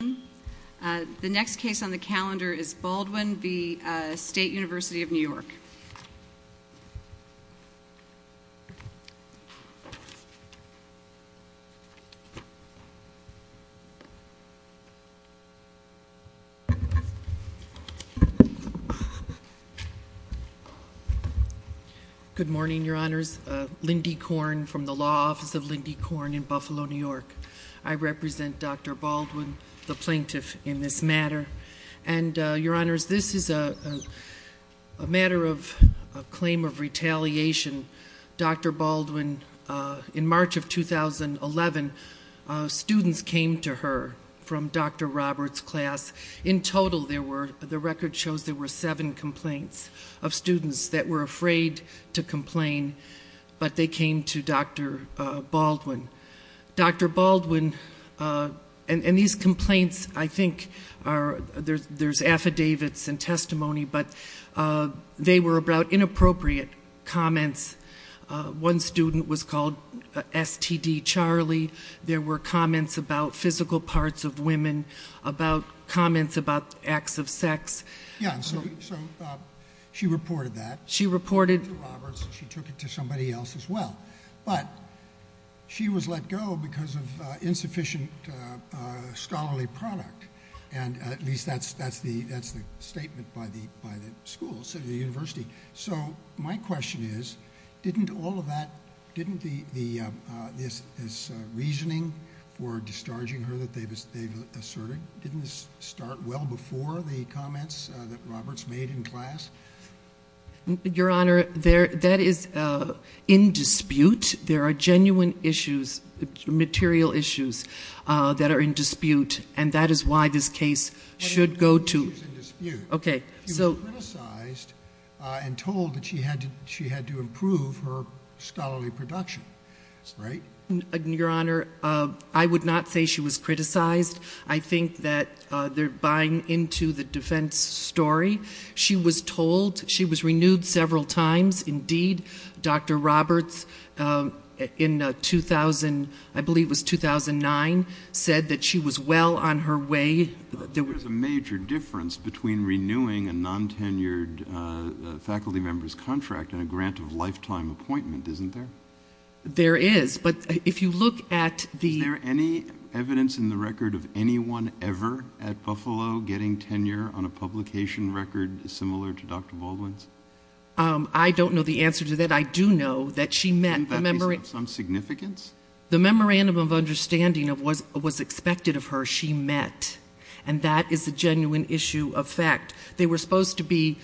Baldwin. The next case on the calendar is Baldwin v. State University of New York. Good morning, Your Honors. Lindy Korn from the Law Office of Lindy Korn in Buffalo, New this matter. And, Your Honors, this is a matter of claim of retaliation. Dr. Baldwin, in March of 2011, students came to her from Dr. Roberts' class. In total, there were, the record shows there were seven complaints of students that were afraid to complain, but they came to Dr. Baldwin. Dr. Baldwin, and these complaints, I think, are, there's affidavits and testimony, but they were about inappropriate comments. One student was called STD Charlie. There were comments about physical parts of women, about comments about acts of sex. Yeah, so she reported that. She reported. She took it to somebody else as well, but she was let go because of insufficient scholarly product, and at least that's the statement by the school, so the university. So, my question is, didn't all of that, didn't this reasoning for discharging her that they've asserted, didn't this start well before the comments that Roberts made in class? Your Honor, that is in dispute. There are genuine issues, material issues, that are in dispute, and that is why this case should go to. Okay. She was criticized and told that she had to improve her scholarly production, right? Your Honor, I would not say she was criticized. I think that they're buying into the defense story. She was told she was renewed several times. Indeed, Dr. Roberts, in 2000, I believe it was 2009, said that she was well on her way. There was a major difference between renewing a non-tenured faculty member's contract and a grant of lifetime appointment, isn't there? There is, but if you look at the... Is there any evidence in the record of anyone ever at Buffalo getting tenure on a publication record similar to Dr. Baldwin's? I don't know the answer to that. I do know that she met... Isn't that piece of some significance? The memorandum of understanding was expected of her. She met, and that is a genuine issue of fact. They were supposed to be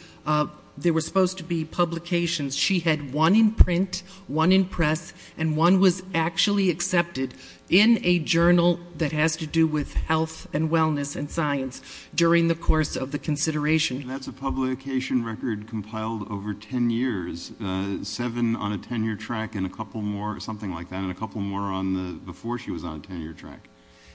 publications. She had one in print, one in press, and one was actually accepted in a journal that has to do with health and wellness and science during the course of the consideration. That's a publication record compiled over ten years. Seven on a tenure track and a couple more, something like that, and a couple more before she was on a tenure track.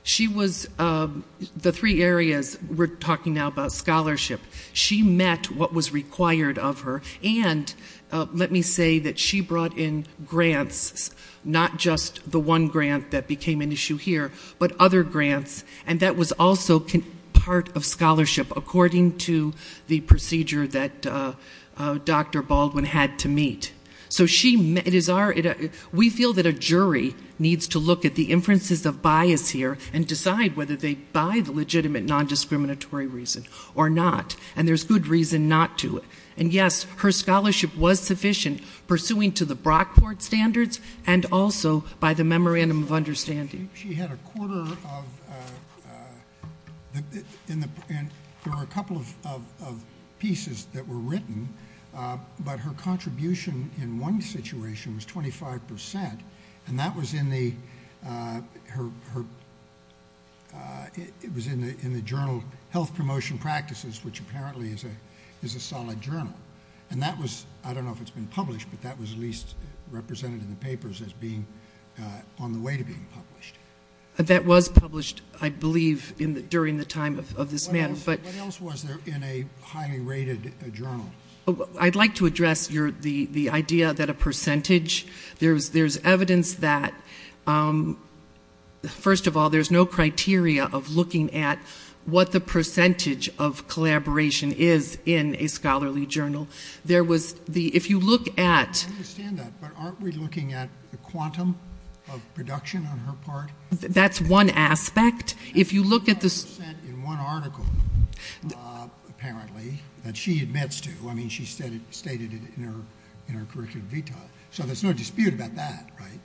She was... The three areas we're talking now about, scholarship, she met what was required of her, and let me say that she brought in grants, not just the one grant that became an issue here, but other grants. That was also part of scholarship according to the procedure that Dr. Baldwin had to meet. We feel that a jury needs to look at the inferences of bias here and decide whether they buy the case, and there's good reason not to. And yes, her scholarship was sufficient, pursuing to the Brockport standards and also by the memorandum of understanding. She had a quarter of... There were a couple of pieces that were written, but her contribution in one situation was 25%, and that was in the journal Health Promotion Practices, which apparently is a solid journal. And that was, I don't know if it's been published, but that was at least represented in the papers as being on the way to being published. That was published, I believe, during the time of this matter, but... What else was there in a highly rated journal? I'd like to address the idea that a percentage... There's evidence that, first of all, there's no criteria of looking at what the percentage of collaboration is in a scholarly journal. There was the... If you look at... I understand that, but aren't we looking at the quantum of production on her part? That's one aspect. If you look at the... 25% in one article, apparently, that she admits to. I mean, she stated it in her curriculum vitae. So there's no dispute about that, right?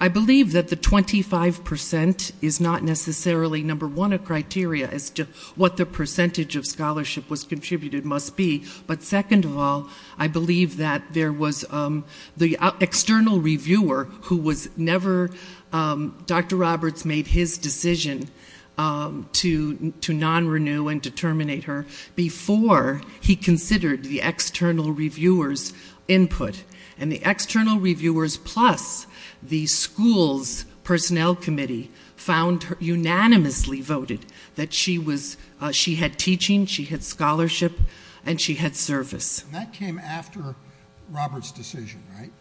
I believe that the 25% is not necessarily, number one, a criteria as to what the percentage of scholarship was contributed must be. But second of all, I believe that there was the external reviewer who was never... Dr. Roberts made his decision to non-renew and determinate her before he considered the external reviewer's input. The external reviewers plus the school's personnel committee unanimously voted that she had teaching, she had scholarship, and she had service. That came after Roberts' decision, right?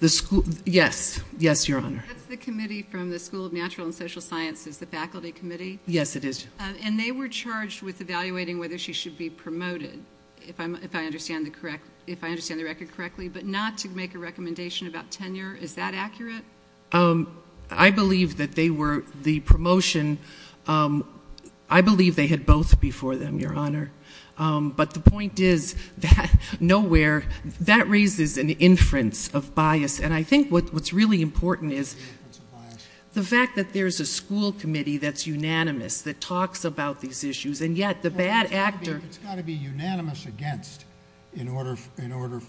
The school... Yes. Yes, Your Honor. That's the committee from the School of Natural and Social Sciences, the faculty committee? Yes, it is. And they were charged with evaluating whether she should be promoted, if I understand the record correctly, but not to make a recommendation about tenure. Is that accurate? I believe that they were... The promotion... I believe they had both before them, Your Honor. But the point is, nowhere... That raises an inference of bias. And I think what's really important is the fact that there's a school committee that's unanimous, that talks about these issues, and yet the bad actor... It's got to be unanimous against in order for the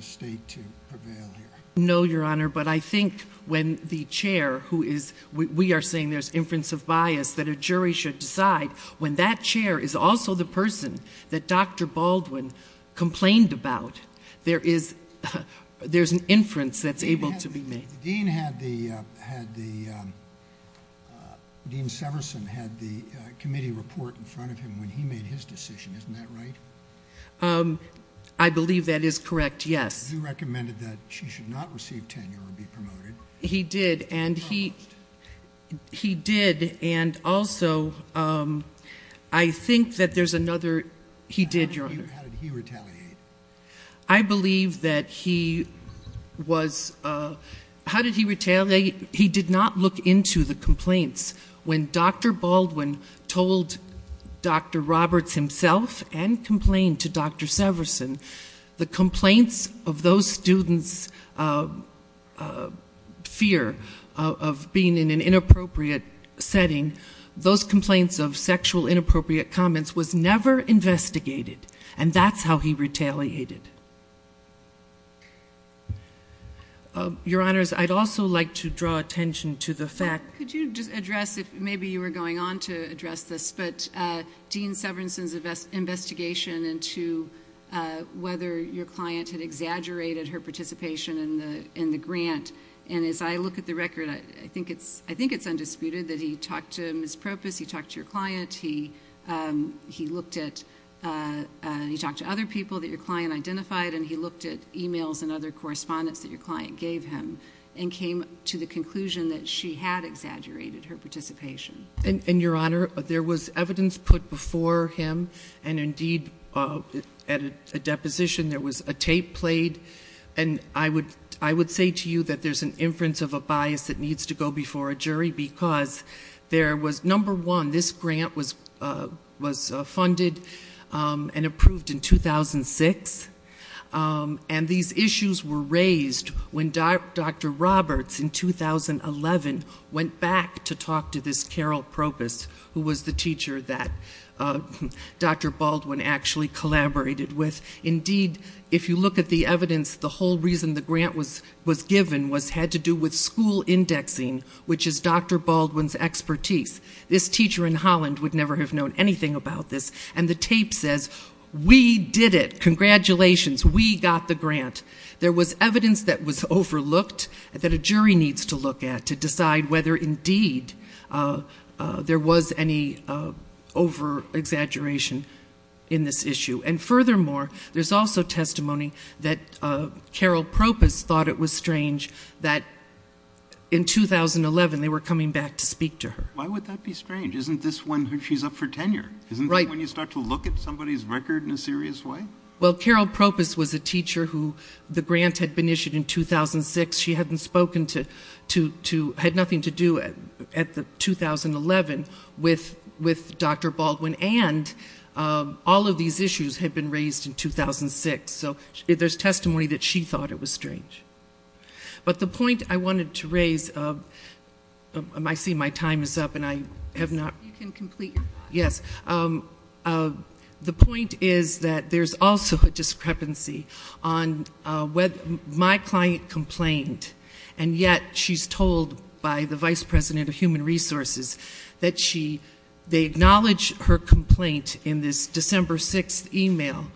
state to prevail here. No, Your Honor, but I think when the chair who is... We are saying there's inference of bias that a jury should decide when that chair is also the person that Dr. Baldwin complained about. There's an inference that's able to be made. Dean Severson had the committee report in front of him when he made his decision. Isn't that right? I believe that is correct, yes. He recommended that she should not receive tenure or be promoted. He did, and he did. And also, I think that there's another... He did, Your Honor. How did he retaliate? I believe that he was... How did he retaliate? He did not look into the complaints. When Dr. Baldwin told Dr. Roberts himself, and complained to Dr. Severson, the complaints of those students' fear of being in an inappropriate setting, those complaints of sexual inappropriate comments was never investigated. And that's how he retaliated. Your Honors, I'd also like to draw attention to the fact... Could you just address, maybe you were going on to address this, but Dean Severson's investigation into whether your client had exaggerated her participation in the grant. And as I look at the record, I think it's undisputed that he talked to Ms. Propus, he talked to your client, he looked at... He talked to other people that your client identified, and he looked at emails and other correspondence that your client gave him, and came to the conclusion that she had exaggerated her participation. And Your Honor, there was evidence put before him, and indeed, at a deposition, there was a tape played. And I would say to you that there's an inference of a bias that needs to go before a jury, because there was, number one, this grant was funded and approved in 2006, and these issues were raised when Dr. Roberts, in 2011, went back to talk to this Carol Propus, who was the teacher that Dr. Baldwin actually collaborated with. Indeed, if you look at the evidence, the whole reason the grant was given had to do with school indexing, which is Dr. Baldwin's expertise. This teacher in Holland would never have known anything about this, and the tape says, we did it, congratulations, we got the grant. There was evidence that was overlooked, that a jury needs to look at to decide whether indeed there was any over-exaggeration in this issue. And furthermore, there's also in 2011, they were coming back to speak to her. Why would that be strange? Isn't this when she's up for tenure? Right. Isn't that when you start to look at somebody's record in a serious way? Well, Carol Propus was a teacher who the grant had been issued in 2006. She hadn't spoken to, had nothing to do at the 2011 with Dr. Baldwin, and all of these issues had been raised in 2006. So there's testimony that she thought it was strange. But the point I wanted to raise, I see my time is up and I have not... You can complete your talk. Yes. The point is that there's also a discrepancy on whether my client complained, and yet she's told by the Vice President of Human Resources that she, they acknowledge her complaint in this December 6th email,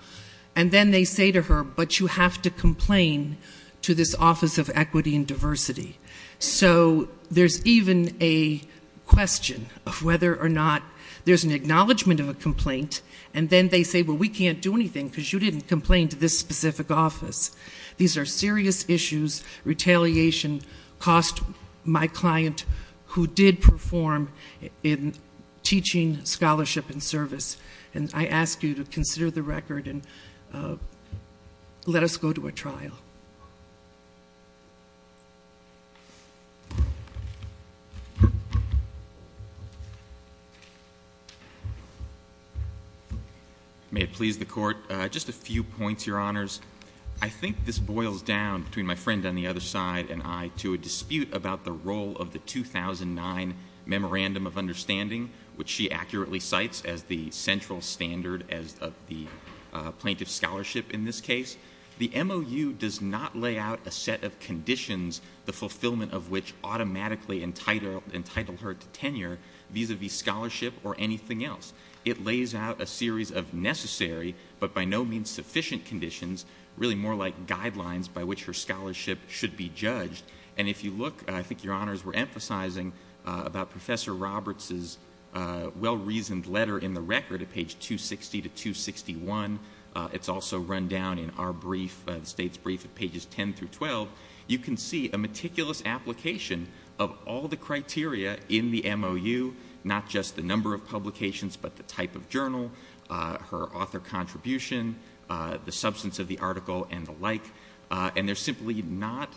and then they say to her, but you have to complain to this Office of Equity and Diversity. So there's even a question of whether or not there's an acknowledgement of a complaint, and then they say, well, we can't do anything because you didn't complain to this specific office. These are serious issues. Retaliation cost my client who did not perform in teaching, scholarship, and service. And I ask you to consider the record and let us go to a trial. May it please the Court. Just a few points, Your Honors. I think this boils down between my friend on the other side and I to a dispute about the role of the 2009 Memorandum of Understanding, which she accurately cites as the central standard as of the plaintiff's scholarship in this case. The MOU does not lay out a set of conditions, the fulfillment of which automatically entitle her to tenure vis-a-vis scholarship or anything else. It lays out a series of And if you look, I think Your Honors were emphasizing about Professor Roberts' well-reasoned letter in the record at page 260 to 261. It's also run down in our brief, the State's brief at pages 10 through 12. You can see a meticulous application of all the criteria in the MOU, not just the number of publications, but the type of journal, her author contribution, the substance of the article and the like. And there's simply not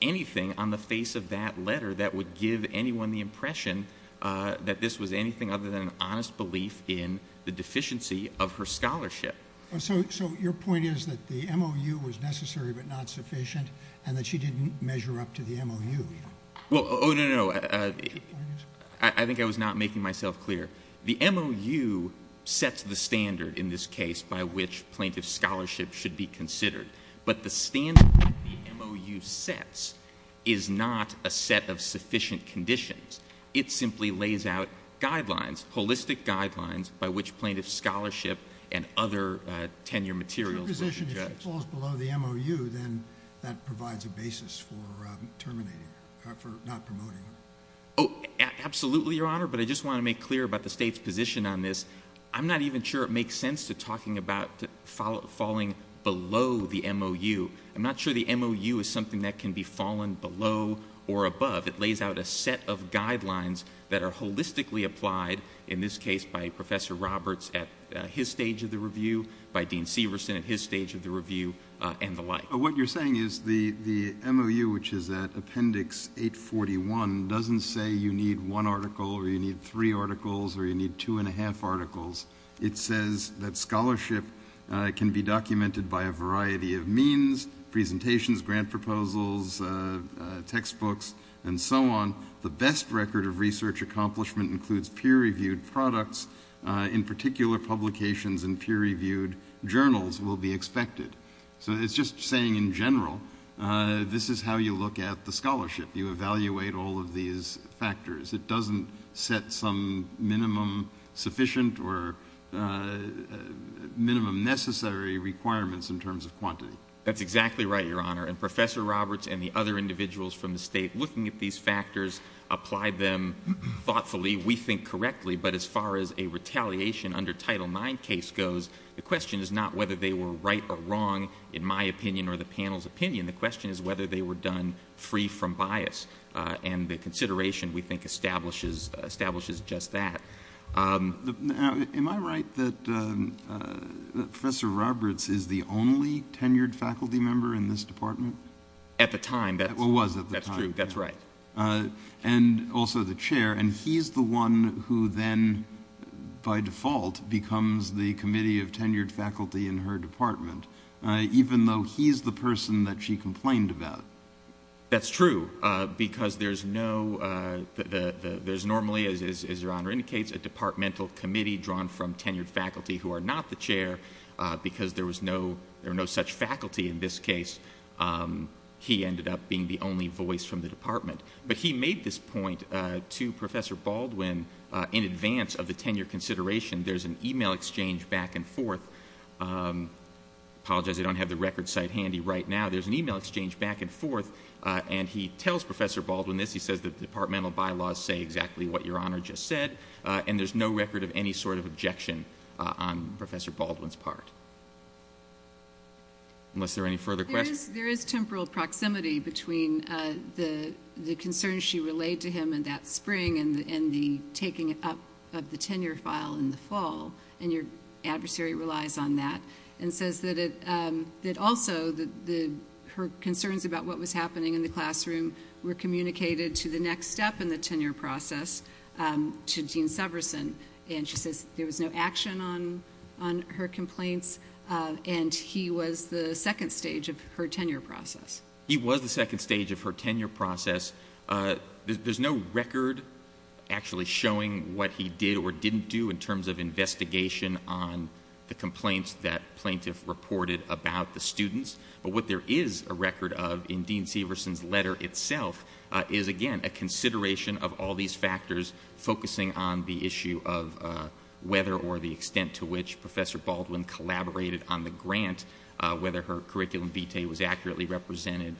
anything on the face of that letter that would give anyone the impression that this was anything other than an honest belief in the deficiency of her scholarship. So your point is that the MOU was necessary but not sufficient and that she didn't measure up to the MOU? Oh, no, no. I think I was not making myself clear. The MOU sets the standard in this case by which plaintiff scholarship should be considered. But the standard that the MOU sets is not a set of sufficient conditions. It simply lays out guidelines, holistic guidelines, by which plaintiff scholarship and other tenure materials were judged. Your position is if she falls below the MOU, then that provides a basis for terminating her, for not promoting her? Oh, absolutely, Your Honor, but I just want to make clear about the State's position on this. I'm not even sure it makes sense to talk about falling below the MOU. I'm not sure the MOU is something that can be fallen below or above. It lays out a set of guidelines that are holistically applied, in this case by Professor Roberts at his stage of the review, by Dean Severson at his stage of the review, and the like. What you're saying is the MOU, which is at Appendix 841, doesn't say you need one article or you need three articles or you need two and a half articles. It says that scholarship can be documented by a variety of means, presentations, grant proposals, textbooks, and so on. The best record of research accomplishment includes peer-reviewed products. In particular, publications in peer-reviewed journals will be expected. So it's just saying, in general, this is how you look at the scholarship. You evaluate all of these factors. It doesn't set some minimum sufficient or minimum necessary requirements in terms of quantity. That's exactly right, Your Honor. And Professor Roberts and the other individuals from the State looking at these factors applied them thoughtfully, we think correctly, but as far as a retaliation under Title IX case goes, the question is not whether they were right or wrong, in my opinion or the panel's opinion. The question is whether they were done free from bias. And the consideration, we think, establishes just that. Am I right that Professor Roberts is the only tenured faculty member in this department? At the time. Well, was at the time. That's true. That's right. And also the chair. And he's the one who then, by default, becomes the committee of tenured faculty in her department, even though he's the person that she complained about. That's true, because there's no, there's normally, as Your Honor indicates, a departmental committee drawn from tenured faculty who are not the chair, because there was no such faculty in this case. He ended up being the only voice from the department. But he made this point to Professor Baldwin in advance of the tenure consideration. There's an e-mail exchange back and forth. I apologize I don't have the record site handy right now. There's an e-mail exchange back and forth, and he tells Professor Baldwin this. He says that the departmental bylaws say exactly what Your Honor just said, and there's no record of any sort of objection on Professor Baldwin's part. Unless there are any further questions. There is temporal proximity between the concerns she relayed to him in that spring and the taking up of the tenure file in the fall, and your adversary relies on that, and says that also her concerns about what was happening in the classroom were communicated to the next step in the tenure process to Dean Severson. And she says there was no action on her complaints, and he was the second stage of her tenure process. He was the second stage of her tenure process. There's no record actually showing what he did or didn't do in terms of investigation on the complaints that plaintiff reported about the students. But what there is a record of in Dean Severson's letter itself is, again, a consideration of all these factors focusing on the issue of whether or the extent to which Professor Baldwin collaborated on the grant, whether her curriculum vitae was accurately represented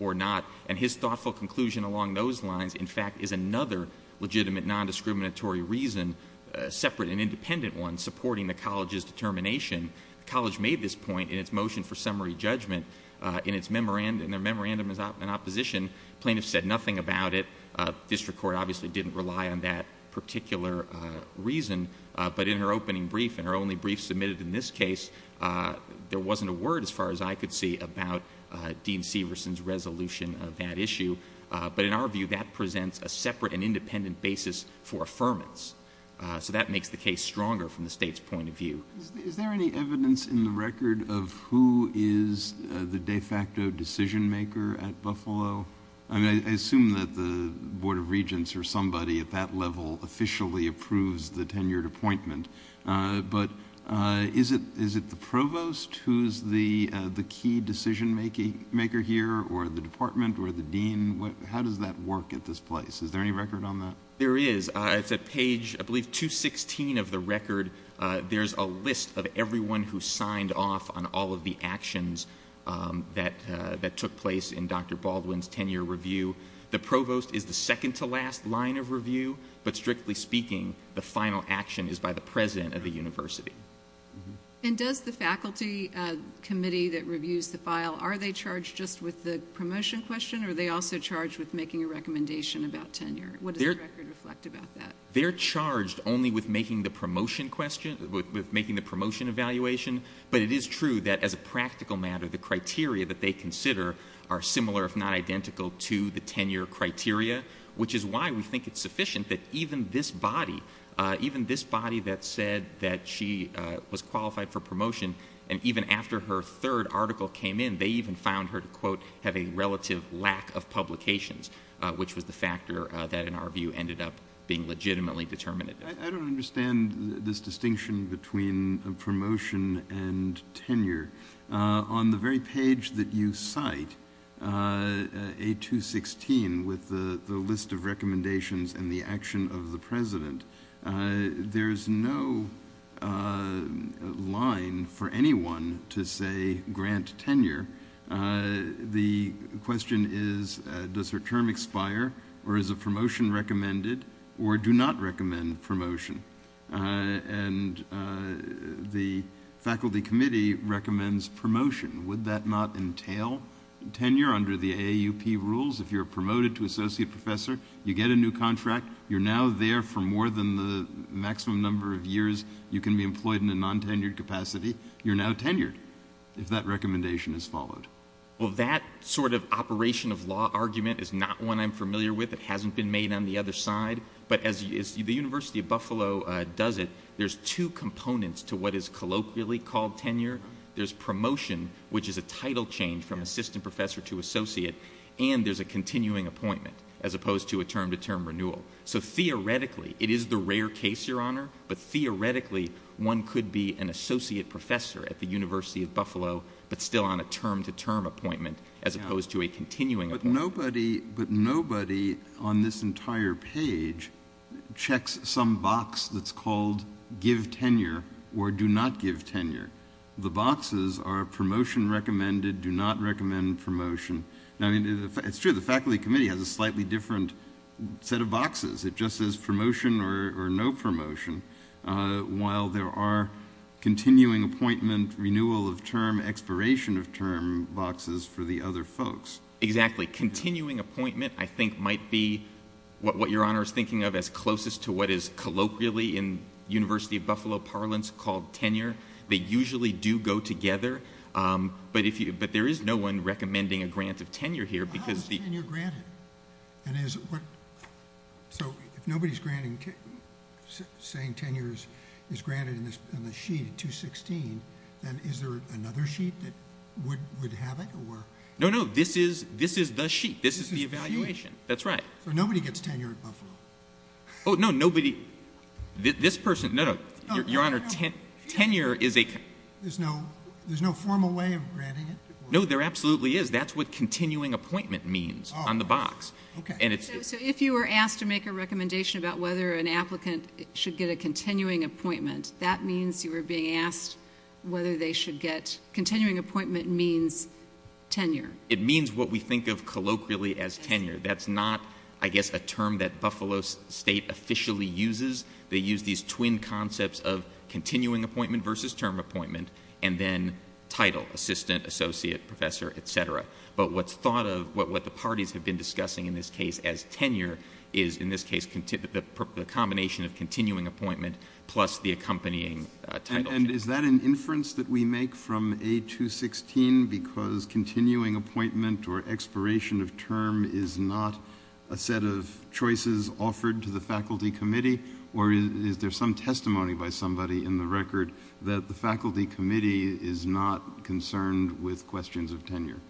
or not. And his thoughtful conclusion along those lines, in fact, is another legitimate, non-discriminatory reason, a separate and independent one, supporting the college's determination. The college made this point in its motion for summary judgment in its memorandum. Their memorandum is in opposition. Plaintiffs said nothing about it. District Court obviously didn't rely on that particular reason. But in her opening brief and her only brief submitted in this case, there wasn't a word as far as I could see about Dean Severson's resolution of that issue. But in our view, that presents a separate and independent basis for affirmance. So that makes the case stronger from the state's point of view. Is there any evidence in the record of who is the de facto decision maker at Buffalo? I assume that the Board of Regents or somebody at that level officially approves the tenured appointment. But is it the provost who is the key decision maker here or the department or the dean? How does that work at this place? Is there any record on that? There is. It's at page, I believe, 216 of the record. There's a list of everyone who signed off on all of the actions that took place in Dr. Baldwin's tenured review. But strictly speaking, the final action is by the president of the university. And does the faculty committee that reviews the file, are they charged just with the promotion question or are they also charged with making a recommendation about tenure? What does the record reflect about that? They're charged only with making the promotion evaluation. But it is true that as a practical matter, the criteria that they consider are similar if not identical to the tenure criteria, which is why we think it's sufficient that even this body, even this body that said that she was qualified for promotion and even after her third article came in, they even found her to, quote, have a relative lack of publications, which was the factor that in our view ended up being legitimately determinative. I don't understand this distinction between promotion and tenure. On the very page that you cite, A216, with the list of recommendations and the action of the president, there's no line for anyone to say grant tenure. The question is, does her term expire or is a promotion recommended or do not recommend promotion? And the faculty committee recommends promotion. Would that not entail tenure under the AAUP rules? If you're promoted to associate professor, you get a new contract, you're now there for more than the maximum number of years you can be employed in a non-tenured capacity, you're now tenured if that recommendation is followed. Well, that sort of operation of law argument is not one I'm familiar with. It hasn't been made on the other side. But as the University of Buffalo does it, there's two components to what is colloquially called tenure. There's promotion, which is a title change from assistant professor to associate, and there's a continuing appointment as opposed to a term-to-term renewal. So theoretically, it is the rare case, Your Honor, but theoretically one could be an associate professor at the University of Buffalo but still on a term-to-term appointment as opposed to a continuing appointment. But nobody on this entire page checks some box that's called give tenure or do not give tenure. The boxes are promotion recommended, do not recommend promotion. It's true, the faculty committee has a slightly different set of boxes. It just says promotion or no promotion, while there are continuing appointment, renewal of term, expiration of term boxes for the other folks. Exactly. Continuing appointment, I think, might be what Your Honor is thinking of as closest to what is colloquially in University of Buffalo parlance called tenure. They usually do go together, but there is no one recommending a grant of tenure here. How is tenure granted? So if nobody's saying tenure is granted in this sheet in 216, then is there another sheet that would have it? No, no, this is the sheet. This is the evaluation. That's right. So nobody gets tenure at Buffalo? Oh, no, nobody. This person, no, no. Your Honor, tenure is a... There's no formal way of granting it? No, there absolutely is. That's what continuing appointment means on the box. Oh, okay. So if you were asked to make a recommendation about whether an applicant should get a continuing appointment, that means you were being asked whether they should get... Continuing appointment means tenure. It means what we think of colloquially as tenure. That's not, I guess, a term that Buffalo State officially uses. They use these twin concepts of continuing appointment versus term appointment, and then title, assistant, associate, professor, et cetera. But what's thought of, what the parties have been discussing in this case as tenure is, in this case, the combination of continuing appointment plus the accompanying title change. And is that an inference that we make from A216, because continuing appointment or expiration of term is not a set of choices offered to the faculty committee, or is there some testimony by somebody in the record that the faculty committee is not concerned with questions of tenure?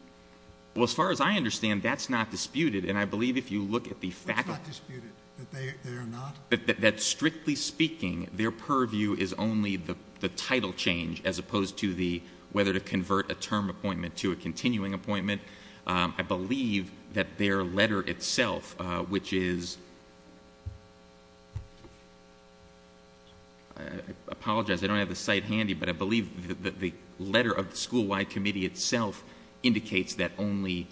Well, as far as I understand, that's not disputed, and I believe if you look at the faculty... That's not disputed, that they are not? That strictly speaking, their purview is only the title change as opposed to whether to convert a term appointment to a continuing appointment. I believe that their letter itself, which is... I apologize, I don't have the site handy, but I believe the letter of the school-wide committee itself indicates that only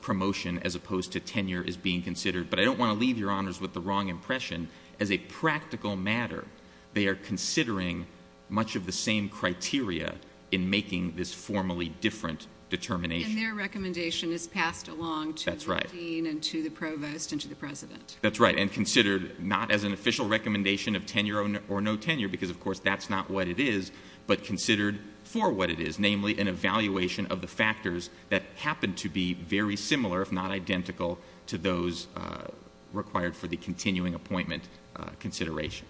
promotion as opposed to tenure is being considered. But I don't want to leave your honors with the wrong impression. As a practical matter, they are considering much of the same criteria in making this formally different determination. And their recommendation is passed along to the dean and to the provost and to the president. That's right, and considered not as an official recommendation of tenure or no tenure, because of course that's not what it is, but considered for what it is, namely an evaluation of the factors that happen to be very similar, if not identical, to those required for the continuing appointment consideration.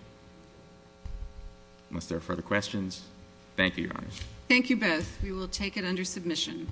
Unless there are further questions, thank you, your honors. Thank you both. We will take it under submission.